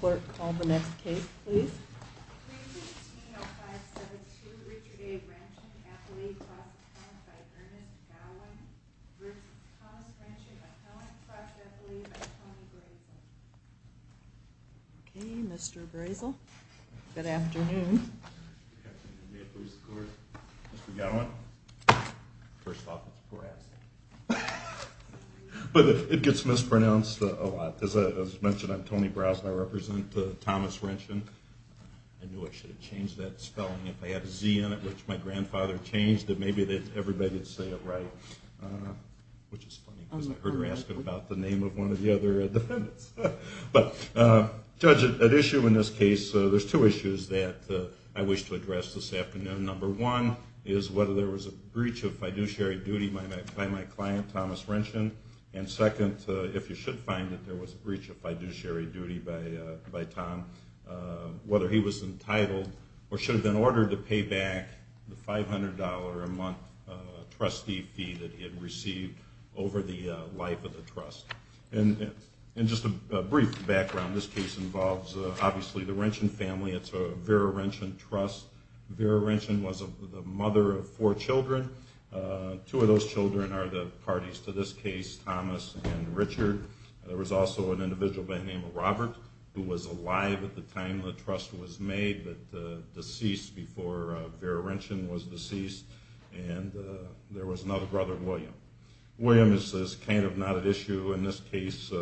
Clerk, call the next case, please. 3-15-05-72, Richard A. Renchen, Appellate Cross Appellant by Ernest Gowen, v. Thomas Renchen, Appellant Cross Appellate by Tony Brazel. Okay, Mr. Brazel. Good afternoon. Good afternoon. May it please the Court, Mr. Gowen. First off, it's a poor accent. But it gets mispronounced a lot. As I mentioned, I'm Tony Brazel. I represent Thomas Renchen. I knew I should have changed that spelling. If I had a Z in it, which my grandfather changed, then maybe everybody would say it right. Which is funny, because I heard her asking about the name of one of the other defendants. But, Judge, at issue in this case, there's two issues that I wish to address this afternoon. Number one is whether there was a breach of fiduciary duty by my client, Thomas Renchen. And second, if you should find that there was a breach of fiduciary duty by Tom, whether he was entitled or should have been ordered to pay back the $500 a month trustee fee that he had received over the life of the trust. And just a brief background, this case involves, obviously, the Renchen family. It's a Vera Renchen trust. Vera Renchen was the mother of four children. Two of those children are the parties to this case, Thomas and Richard. There was also an individual by the name of Robert who was alive at the time the trust was made, but deceased before Vera Renchen was deceased. And there was another brother, William. William is kind of not at issue in this case.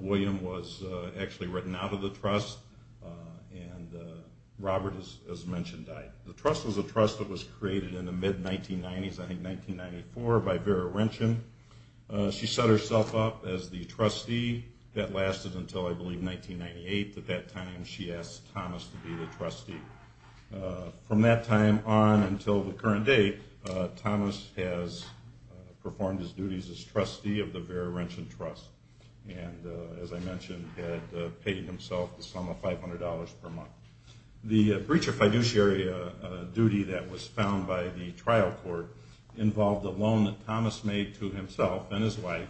William was actually written out of the trust. And Robert, as mentioned, died. The trust was a trust that was created in the mid-1990s, I think 1994, by Vera Renchen. She set herself up as the trustee. That lasted until, I believe, 1998. At that time, she asked Thomas to be the trustee. From that time on until the current date, Thomas has performed his duties as trustee of the Vera Renchen trust. And, as I mentioned, had paid himself the sum of $500 per month. The breach of fiduciary duty that was found by the trial court involved a loan that Thomas made to himself and his wife,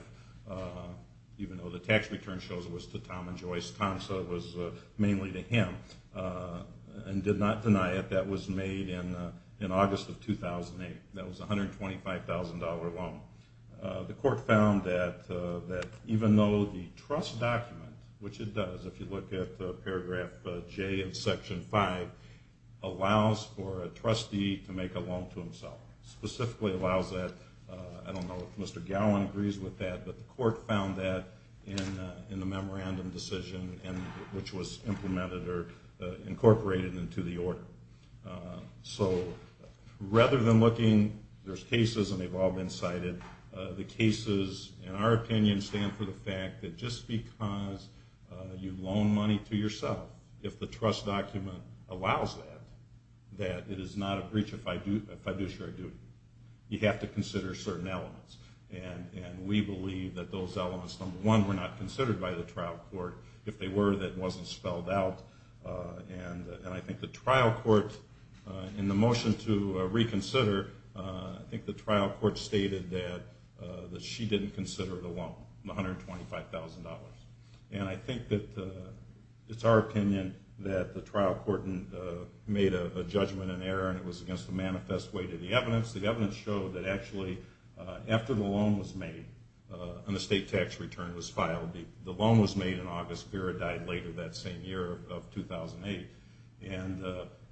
even though the tax return shows it was to Tom and Joyce. Tom said it was mainly to him and did not deny it. That was made in August of 2008. That was a $125,000 loan. The court found that even though the trust document, which it does if you look at paragraph J in section 5, allows for a trustee to make a loan to himself, specifically allows that, I don't know if Mr. Gowan agrees with that, but the court found that in the memorandum decision, which was implemented or incorporated into the order. So rather than looking, there's cases and they've all been cited. The cases, in our opinion, stand for the fact that just because you loan money to yourself, if the trust document allows that, that it is not a breach of fiduciary duty. You have to consider certain elements. And we believe that those elements, number one, were not considered by the trial court. If they were, that wasn't spelled out. And I think the trial court, in the motion to reconsider, I think the trial court stated that she didn't consider the loan, the $125,000. And I think that it's our opinion that the trial court made a judgment in error and it was against the manifest way to the evidence. The evidence showed that actually after the loan was made and the state tax return was filed, the loan was made in August. Vera died later that same year of 2008. And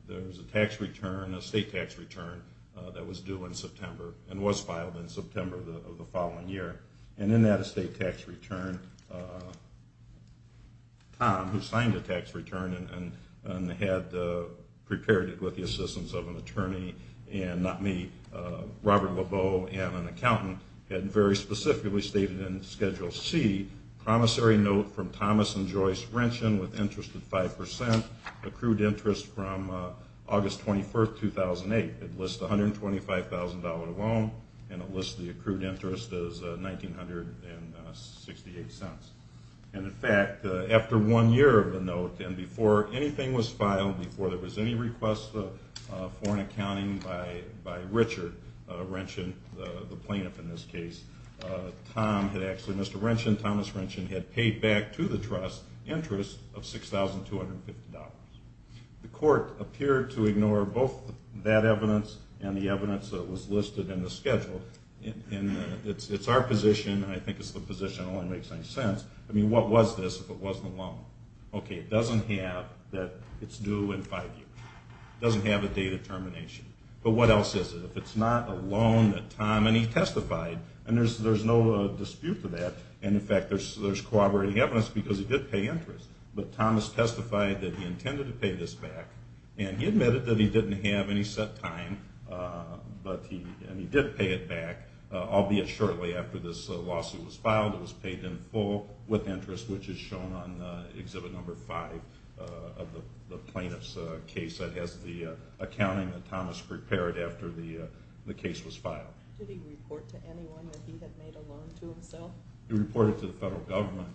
there was a tax return, a state tax return, that was due in September and was filed in September of the following year. And in that state tax return, Tom, who signed the tax return and had prepared it with the assistance of an attorney and not me, Robert Lebeau and an accountant, had very specifically stated in Schedule C, the promissory note from Thomas and Joyce Wrenchin with interest at 5%, accrued interest from August 21, 2008. It lists $125,000 of loan and it lists the accrued interest as $1,968. And, in fact, after one year of the note and before anything was filed, before there was any request for an accounting by Richard Wrenchin, the plaintiff in this case, Tom had actually, Mr. Wrenchin, Thomas Wrenchin, had paid back to the trust interest of $6,250. The court appeared to ignore both that evidence and the evidence that was listed in the schedule. And it's our position, and I think it's the position that only makes any sense, I mean, what was this if it wasn't a loan? Okay, it doesn't have that it's due in five years. It doesn't have a date of termination. But what else is it? If it's not a loan that Tom, and he testified, and there's no dispute to that, and, in fact, there's corroborating evidence because he did pay interest. But Thomas testified that he intended to pay this back, and he admitted that he didn't have any set time, and he did pay it back, albeit shortly after this lawsuit was filed. It was paid in full with interest, which is shown on exhibit number five of the plaintiff's case. It has the accounting that Thomas prepared after the case was filed. Did he report to anyone that he had made a loan to himself? He reported to the federal government.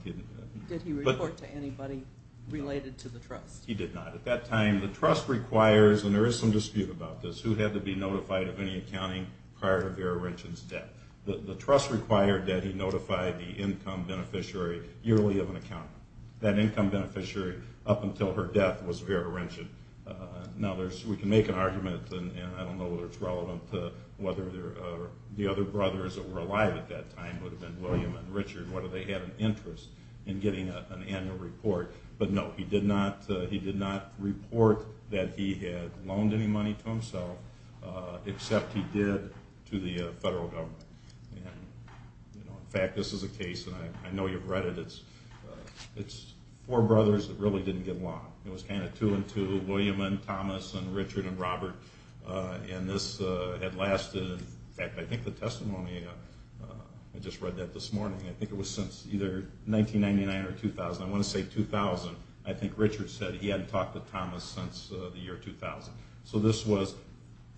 Did he report to anybody related to the trust? He did not. At that time, the trust requires, and there is some dispute about this, who had to be notified of any accounting prior to Vera Rinchin's debt. The trust required that he notify the income beneficiary yearly of an account. That income beneficiary, up until her death, was Vera Rinchin. Now, we can make an argument, and I don't know whether it's relevant to whether the other brothers that were alive at that time would have been William and Richard, whether they had an interest in getting an annual report. But, no, he did not report that he had loaned any money to himself, except he did to the federal government. In fact, this is a case, and I know you've read it, it's four brothers that really didn't get along. It was kind of two and two, William and Thomas and Richard and Robert, and this had lasted, in fact, I think the testimony, I just read that this morning, I think it was since either 1999 or 2000, I want to say 2000, I think Richard said he hadn't talked to Thomas since the year 2000. So this was,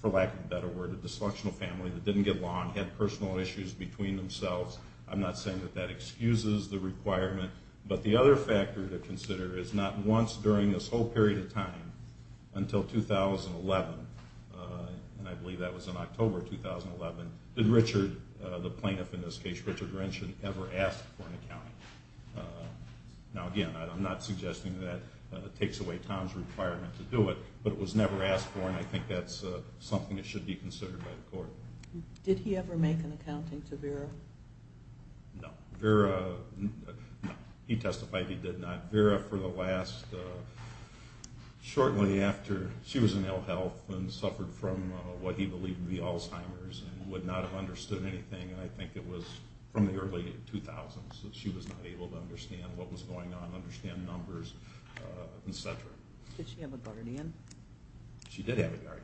for lack of a better word, a dysfunctional family that didn't get along, had personal issues between themselves. I'm not saying that that excuses the requirement, but the other factor to consider is not once during this whole period of time until 2011, and I believe that was in October 2011, did Richard, the plaintiff in this case, Richard Rinchin, ever ask for an accounting. Now, again, I'm not suggesting that takes away Tom's requirement to do it, but it was never asked for, and I think that's something that should be considered by the court. Did he ever make an accounting to Vera? No. Vera, no, he testified he did not. Vera, for the last, shortly after she was in ill health and suffered from what he believed to be Alzheimer's and would not have understood anything, I think it was from the early 2000s that she was not able to understand what was going on, understand numbers, et cetera. Did she have a guardian? She did have a guardian.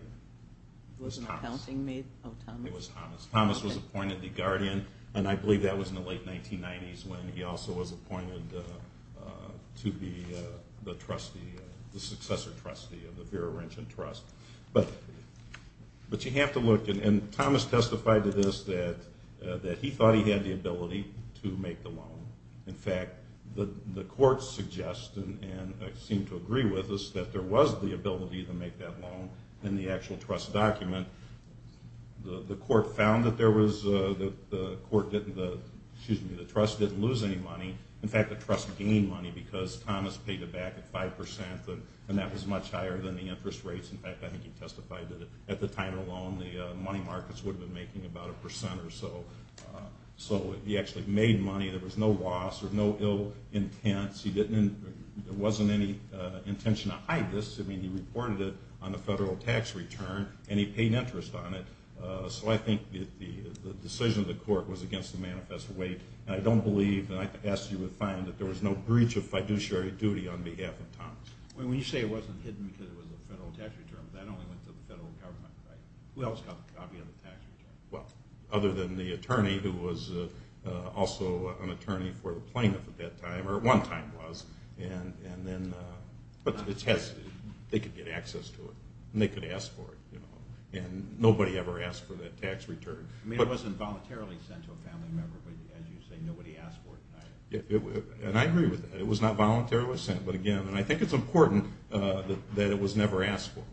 It was Thomas. Thomas was appointed the guardian, and I believe that was in the late 1990s when he also was appointed to be the successor trustee of the Vera Rinchin Trust. But you have to look, and Thomas testified to this, that he thought he had the ability to make the loan. In fact, the courts suggest and seem to agree with us that there was the ability to make that loan in the actual trust document. The trust didn't lose any money. In fact, the trust gained money because Thomas paid it back at 5%, and that was much higher than the interest rates. In fact, I think he testified that at the time alone, the money markets would have been making about a percent or so. So he actually made money. There was no loss or no ill intent. There wasn't any intention to hide this. I mean, he reported it on the federal tax return, and he paid interest on it. So I think the decision of the court was against the manifest way, and I don't believe, and I ask you with fine, that there was no breach of fiduciary duty on behalf of Thomas. When you say it wasn't hidden because it was a federal tax return, that only went to the federal government, right? Who else got the copy of the tax return? Well, other than the attorney who was also an attorney for the plaintiff at that time, or at one time was. But they could get access to it, and they could ask for it, and nobody ever asked for that tax return. I mean, it wasn't voluntarily sent to a family member, but as you say, nobody asked for it. And I agree with that. It was not voluntarily sent, but again, and I think it's important that it was never asked for.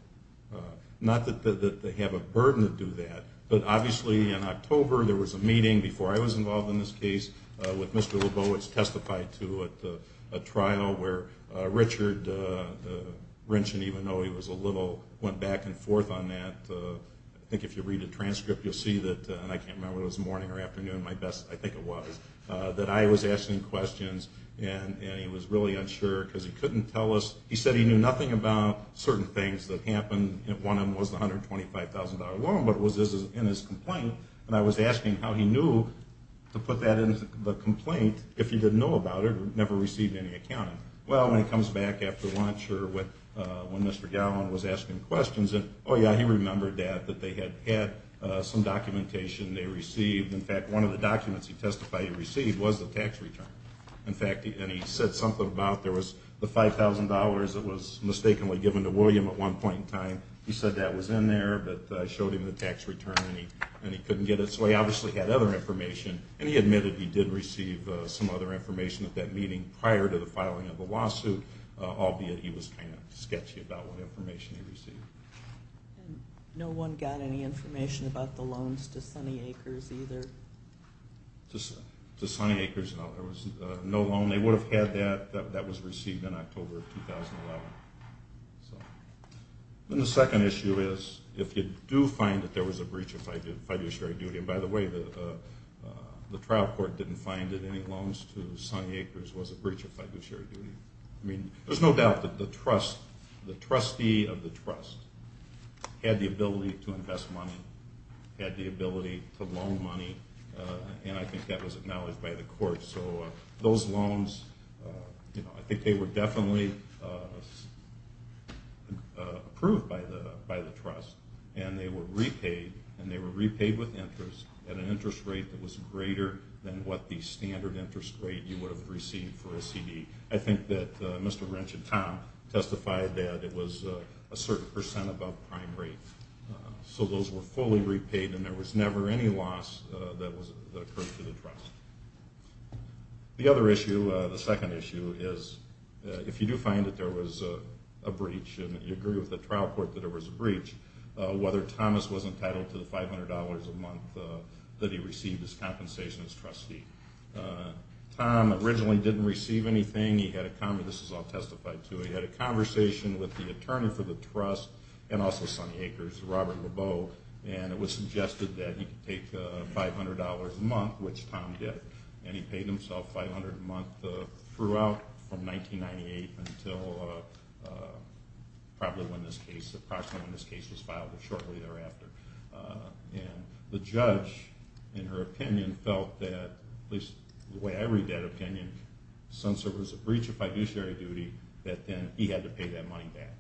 Not that they have a burden to do that, but obviously in October there was a meeting before I was involved in this case with Mr. Lebowitz, testified to at a trial where Richard Renshin, even though he was a little, went back and forth on that. I think if you read the transcript you'll see that, and I can't remember if it was morning or afternoon, my best, I think it was, that I was asking questions, and he was really unsure because he couldn't tell us. He said he knew nothing about certain things that happened. One of them was the $125,000 loan, but it was in his complaint, and I was asking how he knew to put that in the complaint if he didn't know about it or never received any accounting. Well, when he comes back after lunch or when Mr. Gowan was asking questions, oh, yeah, he remembered that, that they had had some documentation they received. In fact, one of the documents he testified he received was the tax return. In fact, and he said something about there was the $5,000 that was mistakenly given to William at one point in time. He said that was in there, but I showed him the tax return and he couldn't get it. So he obviously had other information, and he admitted he did receive some other information at that meeting prior to the filing of the lawsuit, albeit he was kind of sketchy about what information he received. No one got any information about the loans to Sunny Acres either? To Sunny Acres, no. There was no loan. They would have had that. That was received in October of 2011. And the second issue is if you do find that there was a breach of fiduciary duty, and by the way, the trial court didn't find that any loans to Sunny Acres was a breach of fiduciary duty. I mean, there's no doubt that the trustee of the trust had the ability to invest money, had the ability to loan money, and I think that was acknowledged by the court. So those loans, I think they were definitely approved by the trust, and they were repaid, and they were repaid with interest at an interest rate that was greater than what the standard interest rate you would have received for a CD. I think that Mr. Wrench and Tom testified that it was a certain percent above prime rate. So those were fully repaid, and there was never any loss that occurred to the trust. The other issue, the second issue, is if you do find that there was a breach, and you agree with the trial court that there was a breach, whether Thomas was entitled to the $500 a month that he received as compensation as trustee. Tom originally didn't receive anything. He had a conversation. This is all testified to. He had a conversation with the attorney for the trust and also Sonny Akers, Robert Lebeau, and it was suggested that he could take $500 a month, which Tom did, and he paid himself $500 a month throughout from 1998 until probably when this case, approximately when this case was filed, but shortly thereafter. And the judge, in her opinion, felt that, at least the way I read that opinion, I think since there was a breach of fiduciary duty that then he had to pay that money back.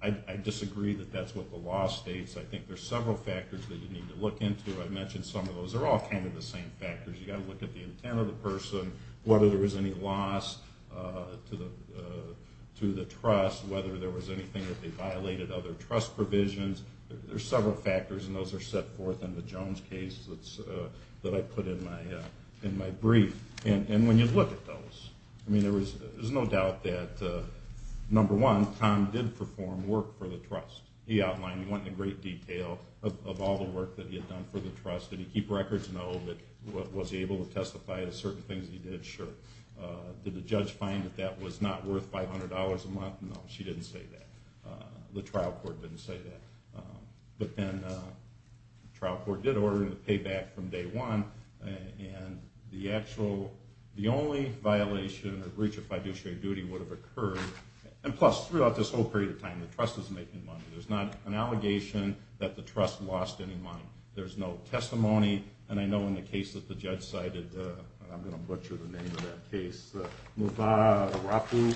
And I disagree that that's what the law states. I think there are several factors that you need to look into. I mentioned some of those. They're all kind of the same factors. You've got to look at the intent of the person, whether there was any loss to the trust, whether there was anything that they violated, other trust provisions. There are several factors, and those are set forth in the Jones case that I put in my brief. And when you look at those, I mean, there's no doubt that, number one, Tom did perform work for the trust. He outlined in great detail of all the work that he had done for the trust. Did he keep records? No. Was he able to testify to certain things he did? Sure. Did the judge find that that was not worth $500 a month? No, she didn't say that. The trial court didn't say that. But then the trial court did order him to pay back from day one, and the only violation or breach of fiduciary duty would have occurred. And plus, throughout this whole period of time, the trust was making money. There's not an allegation that the trust lost any money. There's no testimony. And I know in the case that the judge cited, and I'm going to butcher the name of that case, Muvah Arafu,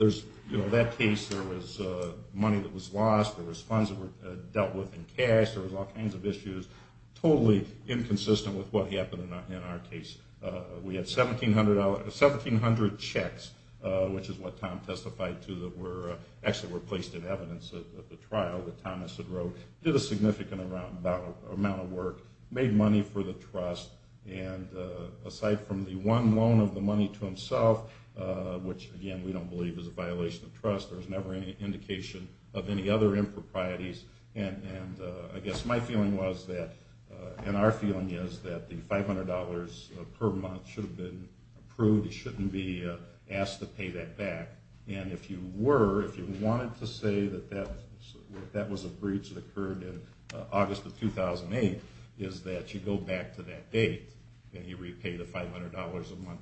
that case there was money that was lost, there was funds that were dealt with in cash, there was all kinds of issues, totally inconsistent with what happened in our case. We had 1,700 checks, which is what Tom testified to, that actually were placed in evidence at the trial that Thomas had wrote. Did a significant amount of work. Made money for the trust. And aside from the one loan of the money to himself, which, again, we don't believe is a violation of trust, there was never any indication of any other improprieties. And I guess my feeling was that, and our feeling is, that the $500 per month should have been approved. He shouldn't be asked to pay that back. And if you were, if you wanted to say that that was a breach that occurred in August of 2008, is that you go back to that date and you repay the $500 a month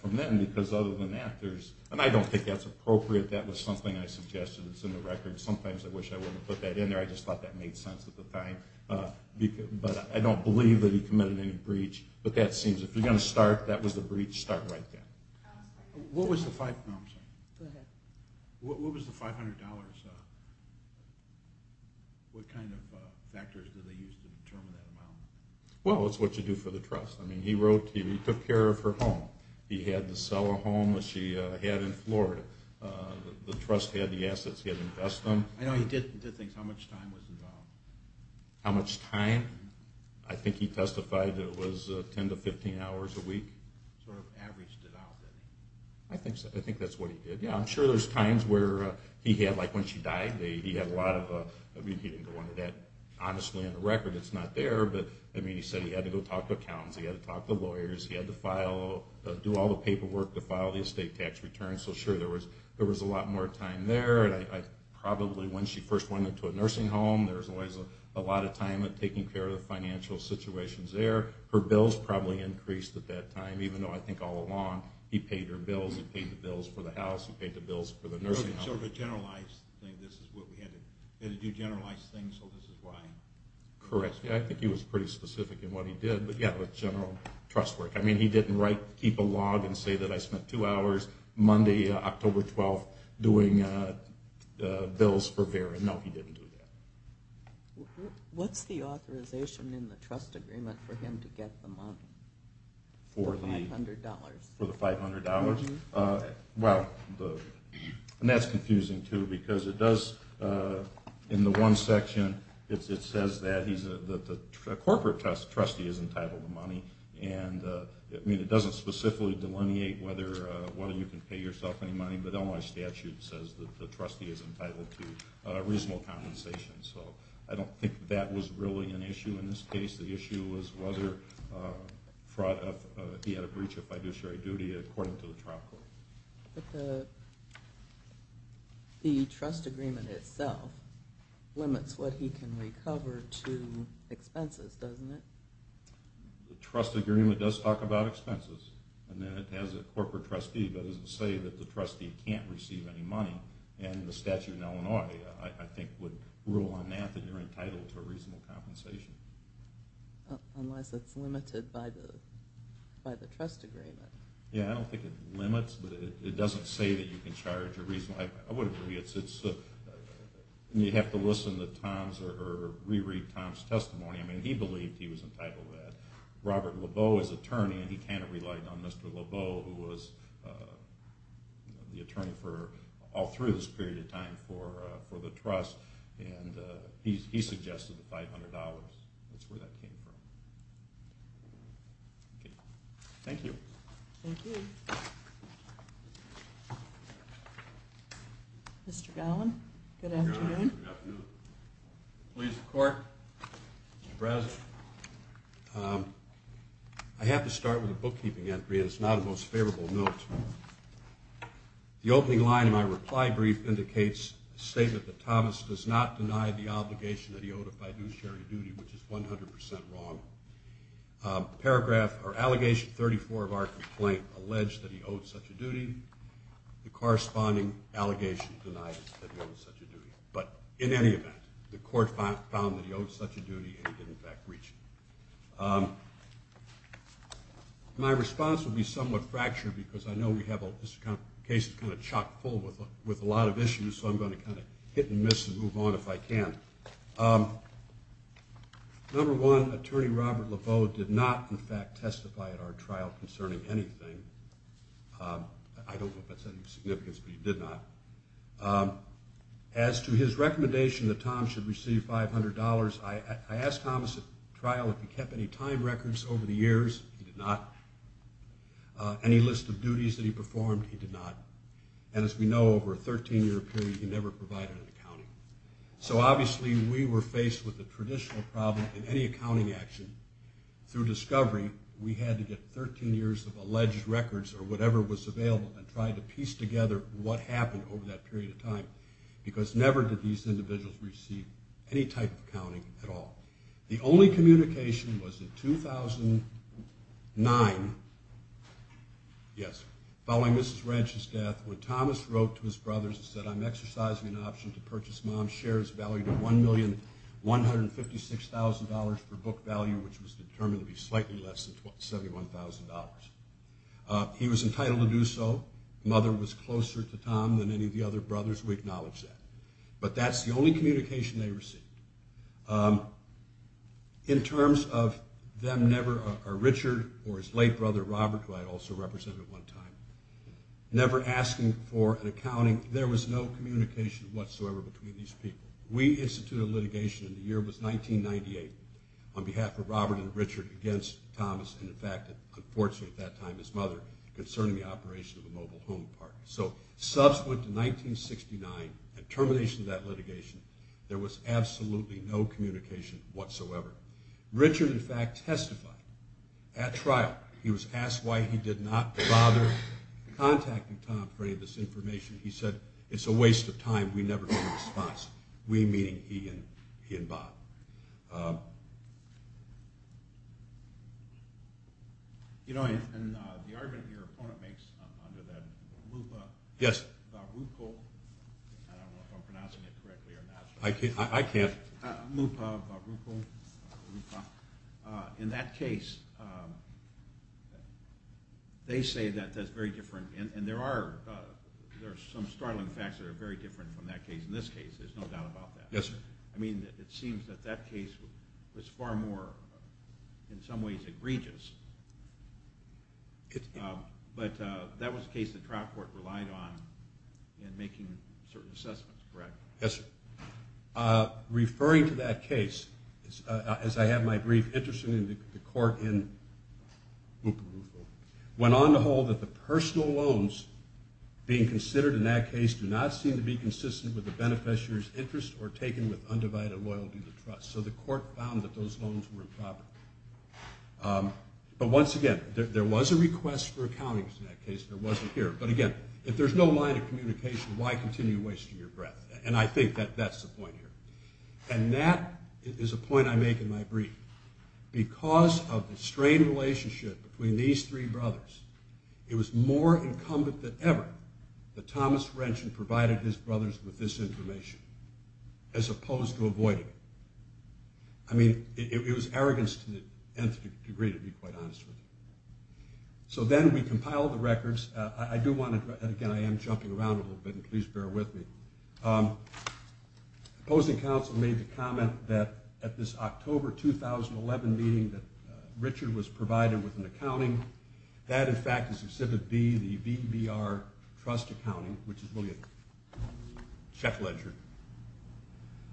from then, because other than that there's, and I don't think that's appropriate, that was something I suggested that's in the record. Sometimes I wish I wouldn't have put that in there, I just thought that made sense at the time. But I don't believe that he committed any breach. But that seems, if you're going to start that was a breach, start right then. What was the $500, what kind of factors did they use to determine that amount? Well, it's what you do for the trust. I mean, he wrote, he took care of her home. He had to sell her home that she had in Florida. The trust had the assets, he had to invest them. I know he did things, how much time was involved? How much time? I think he testified that it was 10 to 15 hours a week. Sort of averaged it out. I think that's what he did. Yeah, I'm sure there's times where he had, like when she died, he had a lot of, I mean he didn't go into that honestly in the record, it's not there, but I mean he said he had to go talk to accountants, he had to talk to lawyers, he had to file, do all the paperwork to file the estate tax return. So sure, there was a lot more time there. Probably when she first went into a nursing home, there was always a lot of time in taking care of the financial situations there. Her bills probably increased at that time, even though I think all along, he paid her bills, he paid the bills for the house, he paid the bills for the nursing home. Sort of a generalized thing, this is what we had to do, generalized things, so this is why. Correct, yeah, I think he was pretty specific in what he did, but yeah, the general trust work. I mean, he didn't write, keep a log and say that I spent two hours Monday, October 12th, doing bills for Vera. No, he didn't do that. What's the authorization in the trust agreement for him to get the money? For the $500? For the $500? Well, and that's confusing too, because it does, in the one section, it says that the corporate trustee is entitled to money, and it doesn't specifically delineate whether you can pay yourself any money, but then my statute says that the trustee is entitled to reasonable compensation. So I don't think that was really an issue in this case. The issue was whether he had a breach of fiduciary duty, according to the trial court. But the trust agreement itself limits what he can recover to expenses, doesn't it? The trust agreement does talk about expenses, and then it has a corporate trustee, but it doesn't say that the trustee can't receive any money, and the statute in Illinois, I think, would rule on that, that you're entitled to a reasonable compensation. Unless it's limited by the trust agreement. Yeah, I don't think it limits, but it doesn't say that you can charge a reasonable. I would agree. You have to listen to Tom's or reread Tom's testimony. I mean, he believed he was entitled to that. Robert Leveau is attorney, and he can't rely on Mr. Leveau, who was the attorney all through this period of time for the trust, and he suggested the $500. That's where that came from. Thank you. Thank you. Mr. Gowan, good afternoon. Good afternoon. Please, the court. Mr. Brazen. I have to start with a bookkeeping entry, and it's not a most favorable note. The opening line in my reply brief indicates a statement that Thomas does not deny the obligation that he owed if I do share your duty, which is 100% wrong. Paragraph or allegation 34 of our complaint alleged that he owed such a duty. The corresponding allegation denies that he owed such a duty. But in any event, the court found that he owed such a duty, and he did, in fact, breach it. My response will be somewhat fractured because I know we have a case that's kind of chock-full with a lot of issues, so I'm going to kind of hit and miss and move on if I can. Number one, Attorney Robert Leveau did not, in fact, testify at our trial concerning anything. I don't know if that's any significance, but he did not. As to his recommendation that Tom should receive $500, I asked Thomas at trial if he kept any time records over the years. He did not. Any list of duties that he performed, he did not. And as we know, over a 13-year period, he never provided an accounting. So obviously, we were faced with a traditional problem in any accounting action. Through discovery, we had to get 13 years of alleged records or whatever was available and try to piece together what happened over that period of time, because never did these individuals receive any type of accounting at all. The only communication was in 2009, yes, following Mrs. Ranch's death, when Thomas wrote to his brothers and said, I'm exercising an option to purchase Mom's shares valued at $1,156,000 for book value, which was determined to be slightly less than $71,000. He was entitled to do so. Mother was closer to Tom than any of the other brothers. We acknowledge that. But that's the only communication they received. In terms of them never, or Richard or his late brother Robert, who I also represented at one time, never asking for an accounting, there was no communication whatsoever between these people. We instituted litigation in the year it was, 1998, on behalf of Robert and Richard against Thomas and, in fact, unfortunately at that time, his mother, concerning the operation of a mobile home park. So subsequent to 1969, at termination of that litigation, there was absolutely no communication whatsoever. Richard, in fact, testified at trial. He was asked why he did not bother contacting Tom for any of this information. He said, it's a waste of time. We never got a response. We meaning he and Bob. You know, and the argument your opponent makes under that lupa. Yes. Baruco, I don't know if I'm pronouncing it correctly or not. I can't. Lupa, baruco, lupa. In that case, they say that that's very different, and there are some startling facts that are very different from that case. In this case, there's no doubt about that. Yes, sir. I mean, it seems that that case was far more, in some ways, egregious. But that was a case the trial court relied on in making certain assessments, correct? Yes, sir. Referring to that case, as I have my brief interest in the court in lupa rufo, went on to hold that the personal loans being considered in that case do not seem to be consistent with the beneficiary's interest or taken with undivided loyalty to the trust. So the court found that those loans were improper. But once again, there was a request for accountings in that case. There wasn't here. But again, if there's no line of communication, why continue wasting your breath? And I think that that's the point here. And that is a point I make in my brief. Because of the strained relationship between these three brothers, it was more incumbent than ever that Thomas Wrenchen provided his brothers with this information as opposed to avoiding it. I mean, it was arrogance to the nth degree, to be quite honest with you. So then we compiled the records. Again, I am jumping around a little bit, and please bear with me. Opposing counsel made the comment that at this October 2011 meeting that Richard was provided with an accounting, that, in fact, is Exhibit B, the VBR trust accounting, which is really a check ledger.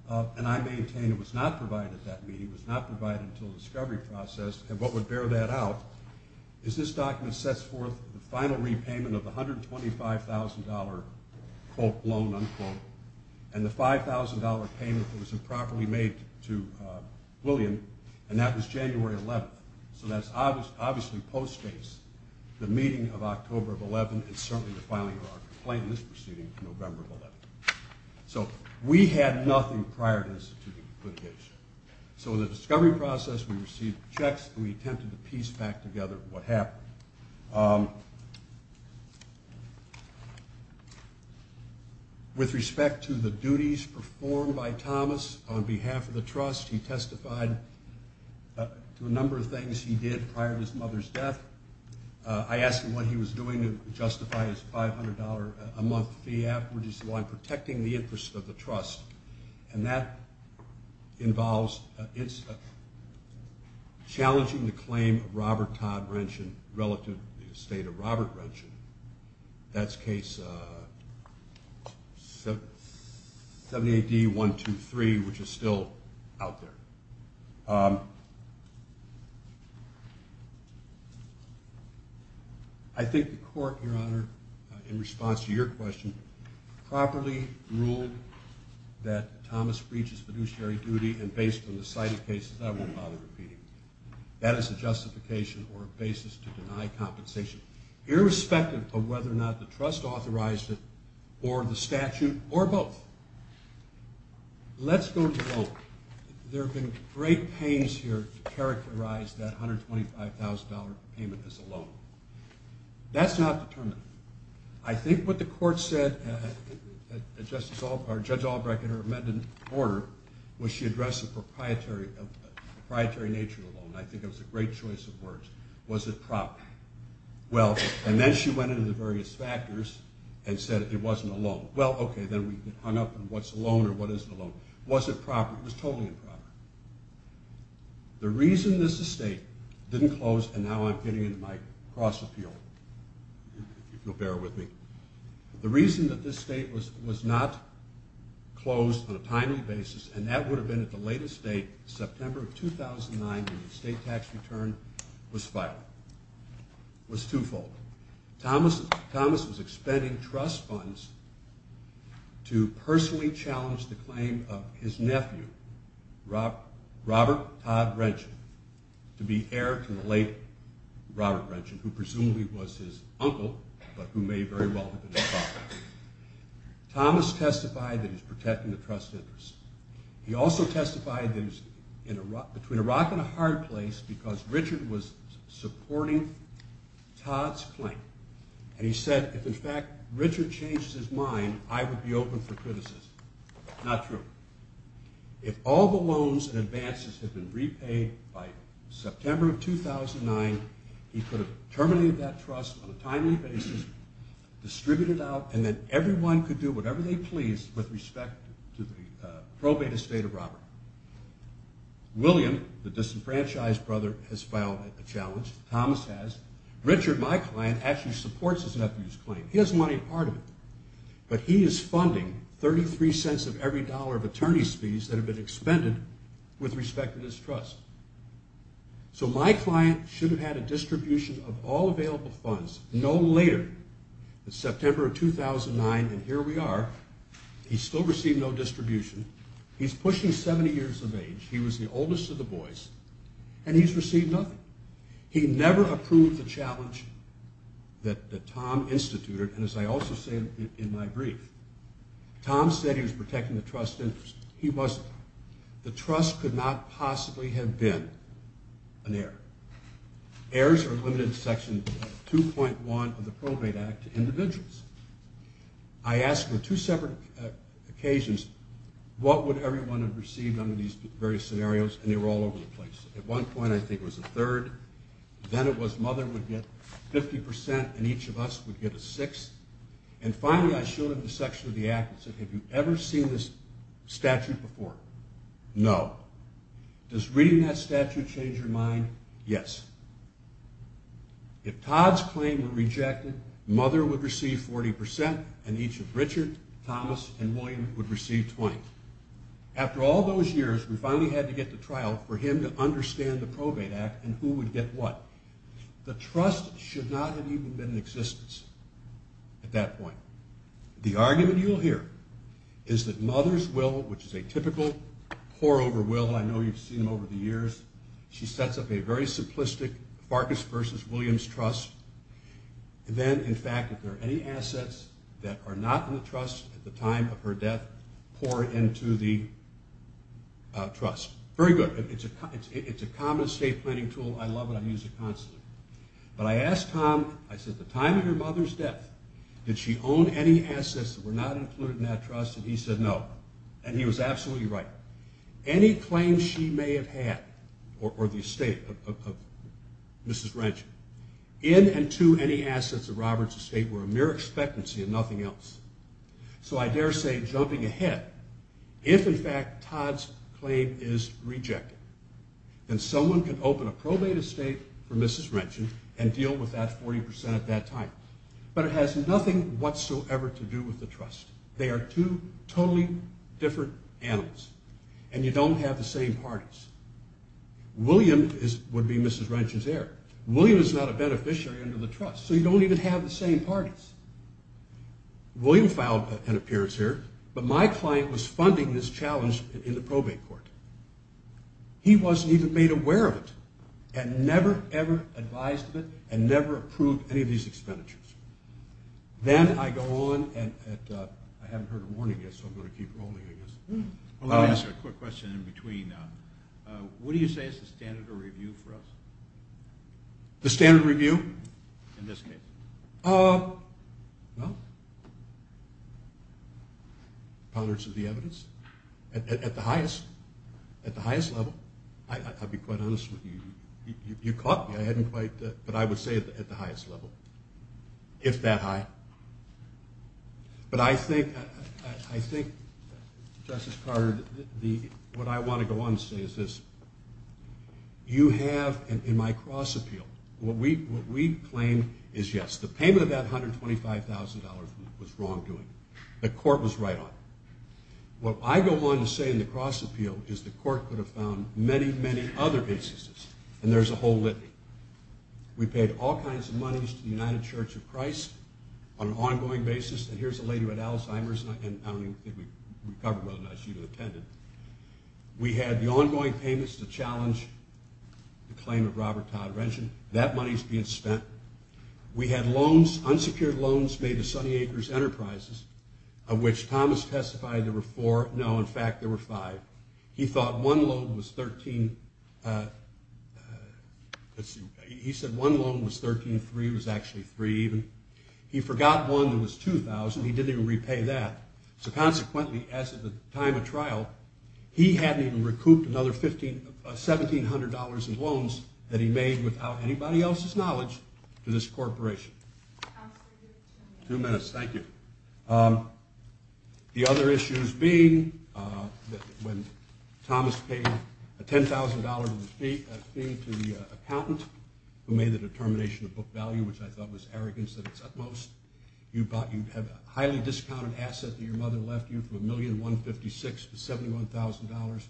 And I maintain it was not provided at that meeting. It was not provided until the discovery process. And what would bear that out is this document sets forth the final repayment of the $125,000, quote, loan, unquote, and the $5,000 payment that was improperly made to William, and that was January 11th. So that obviously postdates the meeting of October 11th and certainly the filing of our complaint in this proceeding, November 11th. So we had nothing prior to this to do with litigation. So in the discovery process, we received checks, and we attempted to piece back together what happened. With respect to the duties performed by Thomas on behalf of the trust, he testified to a number of things he did prior to his mother's death. I asked him what he was doing to justify his $500 a month fee afterwards. He said, well, I'm protecting the interest of the trust. And that involves challenging the claim of Robert Todd Wrenchin relative to the estate of Robert Wrenchin. That's case 70AD123, which is still out there. I think the court, Your Honor, in response to your question, properly ruled that Thomas breaches fiduciary duty, and based on the cited cases, I won't bother repeating. That is a justification or a basis to deny compensation, irrespective of whether or not the trust authorized it or the statute or both. Let's go to the loan. There have been great pains here to characterize that $125,000 payment as a loan. That's not determined. I think what the court said, Judge Albrecht, in her amended order, was she addressed the proprietary nature of the loan. I think it was a great choice of words. Was it proper? And then she went into the various factors and said it wasn't a loan. Well, okay, then we hung up on what's a loan or what isn't a loan. Was it proper? It was totally improper. The reason this estate didn't close, and now I'm getting into my cross-appeal, if you'll bear with me. The reason that this estate was not closed on a timely basis, and that would have been at the latest date, September of 2009, when the estate tax return was filed, was twofold. Thomas was expending trust funds to personally challenge the claim of his nephew, Robert Todd Wrenchon, to be heir to the late Robert Wrenchon, who presumably was his uncle, but who may very well have been his father. Thomas testified that he was protecting the trust interest. He also testified that he was between a rock and a hard place because Richard was supporting Todd's claim. And he said, if, in fact, Richard changed his mind, I would be open for criticism. Not true. If all the loans and advances had been repaid by September of 2009, he could have terminated that trust on a timely basis, distributed it out, and then everyone could do whatever they pleased with respect to the probated estate of Robert. William, the disenfranchised brother, has filed a challenge. Thomas has. Richard, my client, actually supports his nephew's claim. He doesn't want any part of it. But he is funding $0.33 of every dollar of attorney's fees that have been expended with respect to this trust. So my client should have had a distribution of all available funds, no later than September of 2009, and here we are. He still received no distribution. He's pushing 70 years of age. He was the oldest of the boys, and he's received nothing. He never approved the challenge that Tom instituted. And as I also say in my brief, Tom said he was protecting the trust interest. He wasn't. The trust could not possibly have been an error. Errors are limited in Section 2.1 of the Probate Act to individuals. I asked on two separate occasions what would everyone have received under these various scenarios, and they were all over the place. At one point, I think it was a third. Then it was mother would get 50%, and each of us would get a sixth. And finally, I showed him the section of the act and said, have you ever seen this statute before? No. Does reading that statute change your mind? Yes. If Todd's claim were rejected, mother would receive 40%, and each of Richard, Thomas, and William would receive 20. After all those years, we finally had to get to trial for him to understand the Probate Act and who would get what. The trust should not have even been in existence at that point. The argument you'll hear is that mother's will, which is a typical pour-over will. I know you've seen them over the years. She sets up a very simplistic Farkas versus Williams trust. Then, in fact, if there are any assets that are not in the trust at the time of her death, pour into the trust. Very good. It's a common estate planning tool. I love it. I use it constantly. But I asked Tom, I said, at the time of her mother's death, did she own any assets that were not included in that trust? And he said no. And he was absolutely right. Any claims she may have had, or the estate of Mrs. Wrench, in and to any assets of Robert's estate were a mere expectancy and nothing else. So I dare say, jumping ahead, if, in fact, Todd's claim is rejected, then someone can open a probate estate for Mrs. Wrench and deal with that 40% at that time. But it has nothing whatsoever to do with the trust. They are two totally different animals, and you don't have the same parties. William would be Mrs. Wrench's heir. William is not a beneficiary under the trust, so you don't even have the same parties. William filed an appearance here, but my client was funding this challenge in the probate court. He wasn't even made aware of it and never, ever advised of it and never approved any of these expenditures. Then I go on, and I haven't heard a warning yet, so I'm going to keep rolling, I guess. Let me ask you a quick question in between. What do you say is the standard of review for us? The standard review? In this case. Well... Ponderance of the evidence. At the highest level. I'll be quite honest with you. You caught me. I hadn't quite, but I would say at the highest level, if that high. But I think, Justice Carter, what I want to go on to say is this. You have, in my cross-appeal, what we claim is, yes, the payment of that $125,000 was wrongdoing. The court was right on it. What I go on to say in the cross-appeal is the court could have found many, many other instances, and there's a whole litany. We paid all kinds of monies to the United Church of Christ on an ongoing basis, and here's a lady who had Alzheimer's, and I don't even think we covered whether or not she even attended. We had the ongoing payments to challenge the claim of Robert Todd Wrenchin. That money's being spent. We had loans, unsecured loans, made to Sunny Acres Enterprises, of which Thomas testified there were four. No, in fact, there were five. He thought one loan was 13... He said one loan was 13, three was actually three even. He forgot one that was $2,000. He didn't even repay that. So consequently, as of the time of trial, he hadn't even recouped another $1,700 in loans that he made without anybody else's knowledge to this corporation. Two minutes, thank you. The other issues being that when Thomas paid a $10,000 fee to the accountant who made the determination of book value, which I thought was arrogance that it's utmost, you'd have a highly discounted asset that your mother left you for $1,156 to $71,000,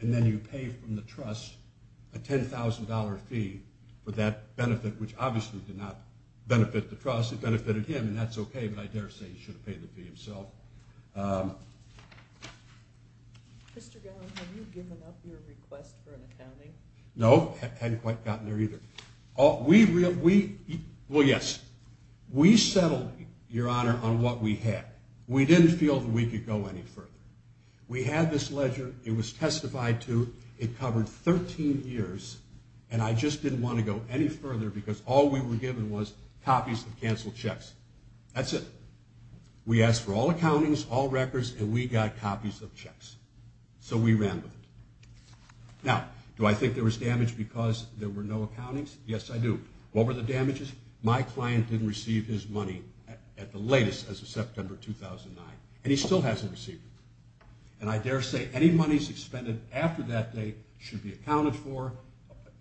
and then you pay from the trust a $10,000 fee for that benefit, which obviously did not benefit the trust. It benefited him, and that's okay, but I dare say he should have paid the fee himself. Mr. Gowen, have you given up your request for an accounting? No, hadn't quite gotten there either. We... well, yes. We settled, Your Honor, on what we had. We didn't feel that we could go any further. We had this ledger. It was testified to. It covered 13 years, and I just didn't want to go any further because all we were given was copies of canceled checks. That's it. We asked for all accountings, all records, and we got copies of checks. So we ran with it. Now, do I think there was damage because there were no accountings? Yes, I do. What were the damages? My client didn't receive his money at the latest as of September 2009, and he still hasn't received it, and I dare say any monies expended after that date should be accounted for,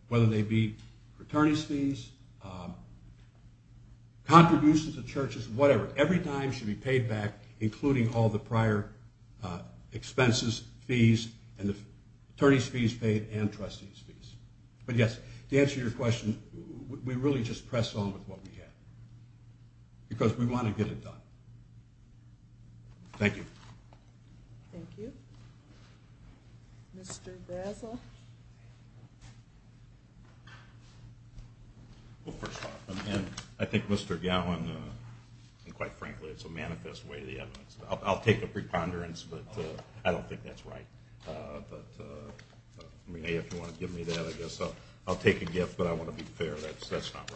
whether they be attorney's fees, contributions to churches, whatever. Every dime should be paid back, including all the prior expenses, fees, and the attorney's fees paid and trustee's fees. But yes, to answer your question, we really just pressed on with what we had because we want to get it done. Thank you. Thank you. Mr. Brazel? Well, first off, I think Mr. Gowen, and quite frankly, it's a manifest way of the evidence. I'll take a preponderance, but I don't think that's right. But if you want to give me that, I guess I'll take a gift, but I want to be fair. That's not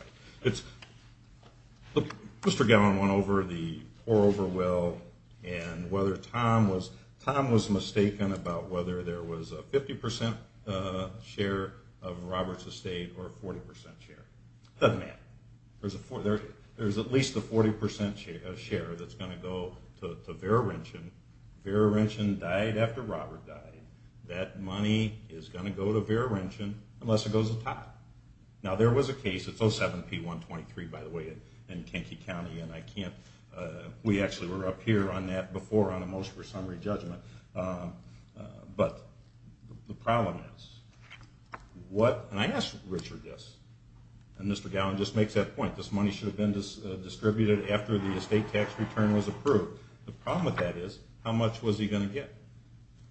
right. Mr. Gowen went over the poor over will, and whether Tom was mistaken about whether there was a 50% share of Robert's estate or a 40% share. It doesn't matter. There's at least a 40% share that's going to go to Vera Renschen. Vera Renschen died after Robert died. That money is going to go to Vera Renschen unless it goes to Tom. Now, there was a case, it's 07-P-123, by the way, in Kanky County, and I can't... We actually were up here on that before on a motion for summary judgment. But the problem is, what... And I asked Richard this, and Mr. Gowen just makes that point. This money should have been distributed after the estate tax return was approved. The problem with that is, how much was he going to get?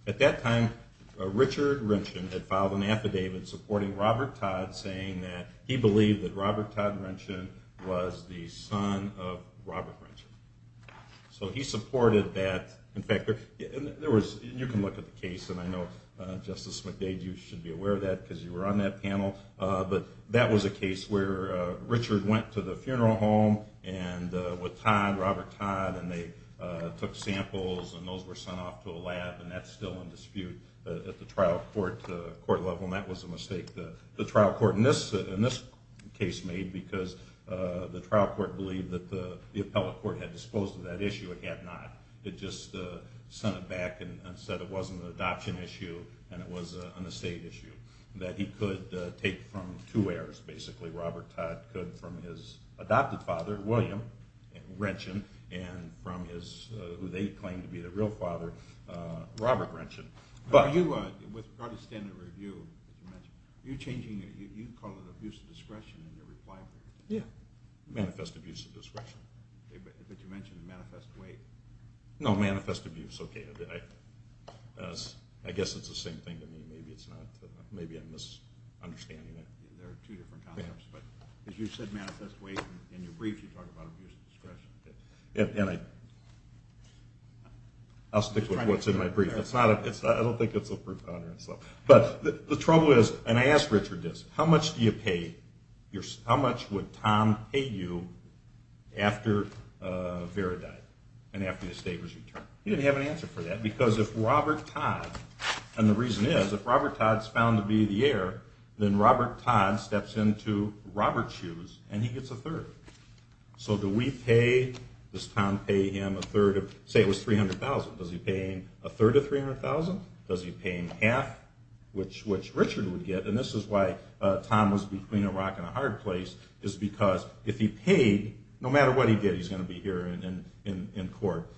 At that time, Richard Renschen had filed an affidavit supporting Robert Todd, saying that he believed that Robert Todd Renschen was the son of Robert Renschen. So he supported that. In fact, there was... You can look at the case, and I know, Justice McDade, you should be aware of that because you were on that panel. But that was a case where Richard went to the funeral home with Todd, Robert Todd, and they took samples, and those were sent off to a lab, and that's still in dispute at the trial court level, and that was a mistake the trial court in this case made because the trial court believed that the appellate court had disposed of that issue. It had not. It just sent it back and said it wasn't an adoption issue and it was an estate issue that he could take from two heirs, basically. Robert Todd could from his adopted father, William Renschen, and from his... who they claimed to be the real father, Robert Renschen. With regard to standard review, you call it abuse of discretion in your reply brief. Yeah, manifest abuse of discretion. But you mentioned manifest weight. No, manifest abuse, okay. I guess it's the same thing to me. Maybe it's not. Maybe I'm misunderstanding it. There are two different concepts, but as you said, manifest weight, in your brief you talk about abuse of discretion. And I... I'll stick with what's in my brief. I don't think it's a proof of honor. But the trouble is, and I asked Richard this, how much do you pay... how much would Tom pay you after Vera died and after the estate was returned? He didn't have an answer for that because if Robert Todd... and the reason is, if Robert Todd's found to be the heir, then Robert Todd steps into Robert's shoes and he gets a third. So do we pay... does Tom pay him a third of... 300,000? Does he pay him half, which Richard would get? And this is why Tom was between a rock and a hard place, is because if he paid, no matter what he did, he's going to be here in court.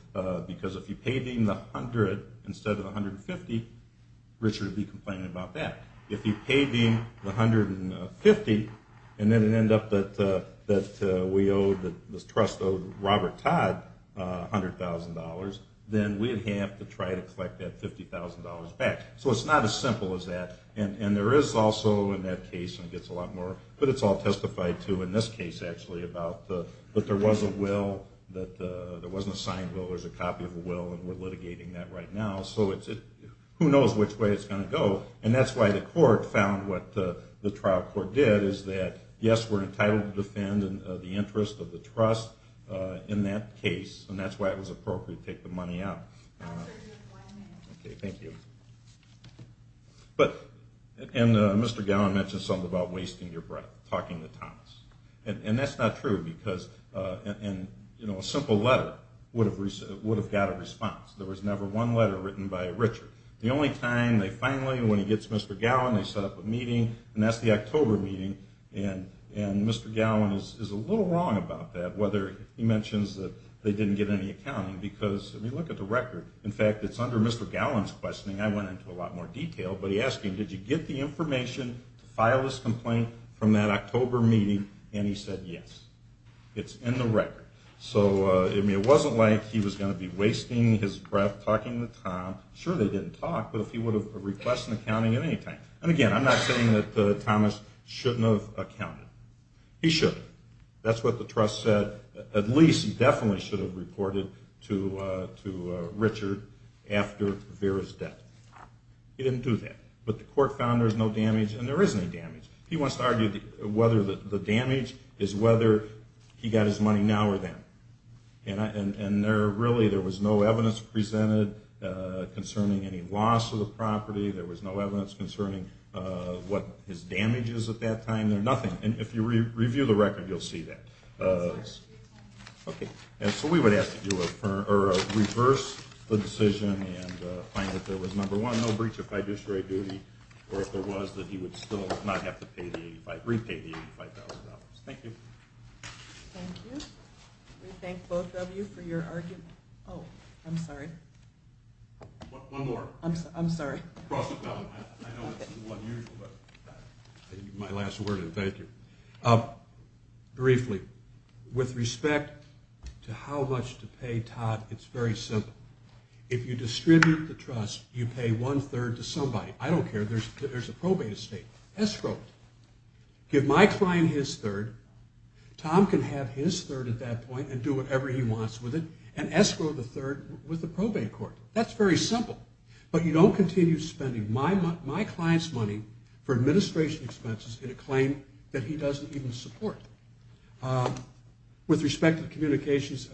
Because if he paid him the 100 instead of the 150, Richard would be complaining about that. If he paid him the 150 and then it ended up that we owe... the trust owed Robert Todd $100,000, then we'd have to try to collect that $50,000 back. So it's not as simple as that. And there is also, in that case... and it gets a lot more... but it's all testified to in this case, actually, about that there was a will, that there wasn't a signed will, there was a copy of a will, and we're litigating that right now. So who knows which way it's going to go. And that's why the court found what the trial court did, is that, yes, we're entitled to defend the interest of the trust in that case, and that's why it was appropriate to take the money out. Okay, thank you. But...and Mr. Gowan mentioned something about wasting your breath, talking to Thomas. And that's not true, because... and, you know, a simple letter would have got a response. There was never one letter written by Richard. The only time they finally... when he gets Mr. Gowan, they set up a meeting, and that's the October meeting, and Mr. Gowan is a little wrong about that, whether he mentions that they didn't get any accounting, because, I mean, look at the record. In fact, it's under Mr. Gowan's questioning. I went into a lot more detail, but he asked him, did you get the information to file this complaint from that October meeting, and he said yes. It's in the record. So, I mean, it wasn't like he was going to be wasting his breath talking to Tom. Sure, they didn't talk, but if he would have requested accounting at any time. And again, I'm not saying that Thomas shouldn't have accounted. He shouldn't. That's what the trust said. At least he definitely should have reported to Richard after Vera's death. He didn't do that. But the court found there's no damage, and there isn't any damage. He wants to argue whether the damage is whether he got his money now or then. And really, there was no evidence presented concerning any loss of the property. There was no evidence concerning what his damage is at that time. And if you review the record, you'll see that. So we would ask that you reverse the decision and find that there was, number one, no breach of fiduciary duty, or if there was, that he would still not have to repay the $85,000. Thank you. Thank you. We thank both of you for your argument. Oh, I'm sorry. One more. I'm sorry. I know it's a little unusual, but my last word is thank you. Briefly, with respect to how much to pay Todd, it's very simple. If you distribute the trust, you pay one-third to somebody. I don't care. There's a probate estate, escrow it. Give my client his third. Tom can have his third at that point and do whatever he wants with it and escrow the third with the probate court. That's very simple. But you don't continue spending my client's money for administration expenses in a claim that he doesn't even support. With respect to the communications,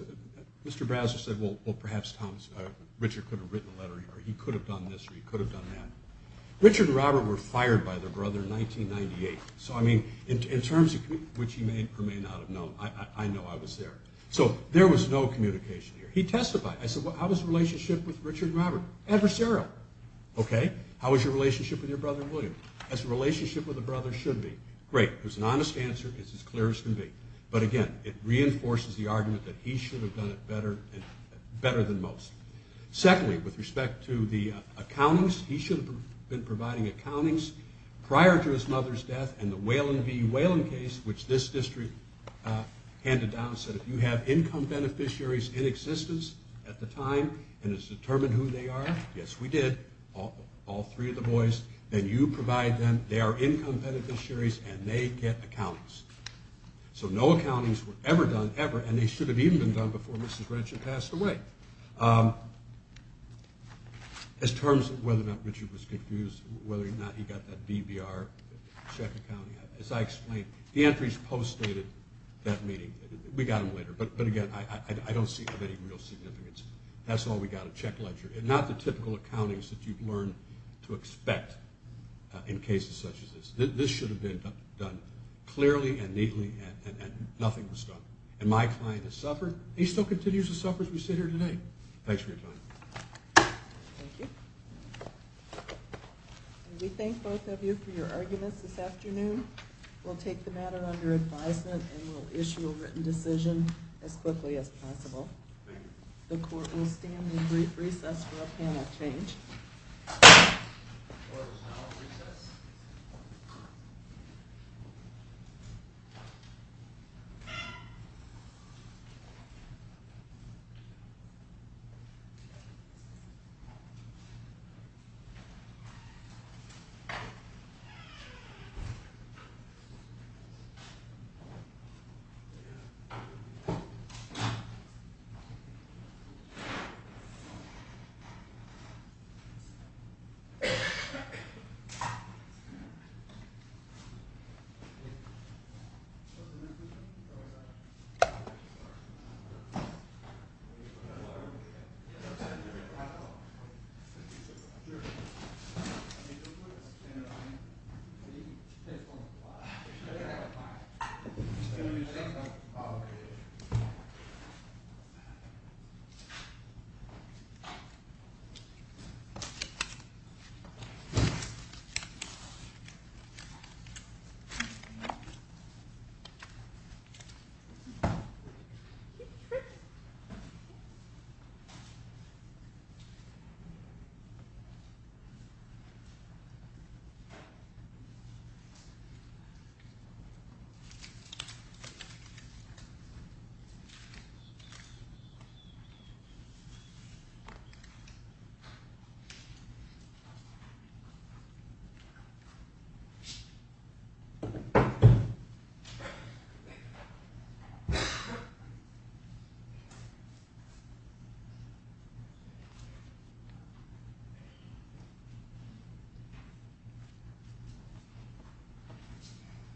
Mr. Browser said, well, perhaps Richard could have written a letter here or he could have done this or he could have done that. Richard and Robert were fired by their brother in 1998. So, I mean, in terms of which he may or may not have known, I know I was there. So there was no communication here. He testified. I said, well, how was the relationship with Richard and Robert? Adversarial. How was your relationship with your brother, William? How's the relationship with the brother should be? Great. It was an honest answer. It's as clear as can be. But again, it reinforces the argument that he should have done it better than most. Secondly, with respect to the accountings, he should have been providing accountings prior to his mother's death and the Whelan v. Whelan case, which this district handed down, I said if you have income beneficiaries in existence at the time and it's determined who they are, yes, we did, all three of the boys, then you provide them their income beneficiaries and they get accountings. So no accountings were ever done, ever, and they should have even been done before Mrs. Renshaw passed away. As terms of whether or not Richard was confused, whether or not he got that BBR check accounting, as I explained, the entries post-dated that meeting. We got them later, but again, I don't see of any real significance. That's all we got, a check ledger, and not the typical accountings that you'd learn to expect in cases such as this. This should have been done clearly and neatly and nothing was done. And my client has suffered, and he still continues to suffer as we sit here today. Thanks for your time. Thank you. We thank both of you for your arguments this afternoon. We'll take the matter under advisement and we'll issue a written decision as quickly as possible. The court will stand in brief recess for a panel change.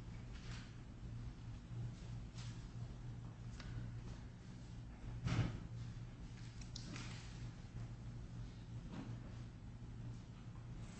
Thank you. Thank you. Thank you. Thank you.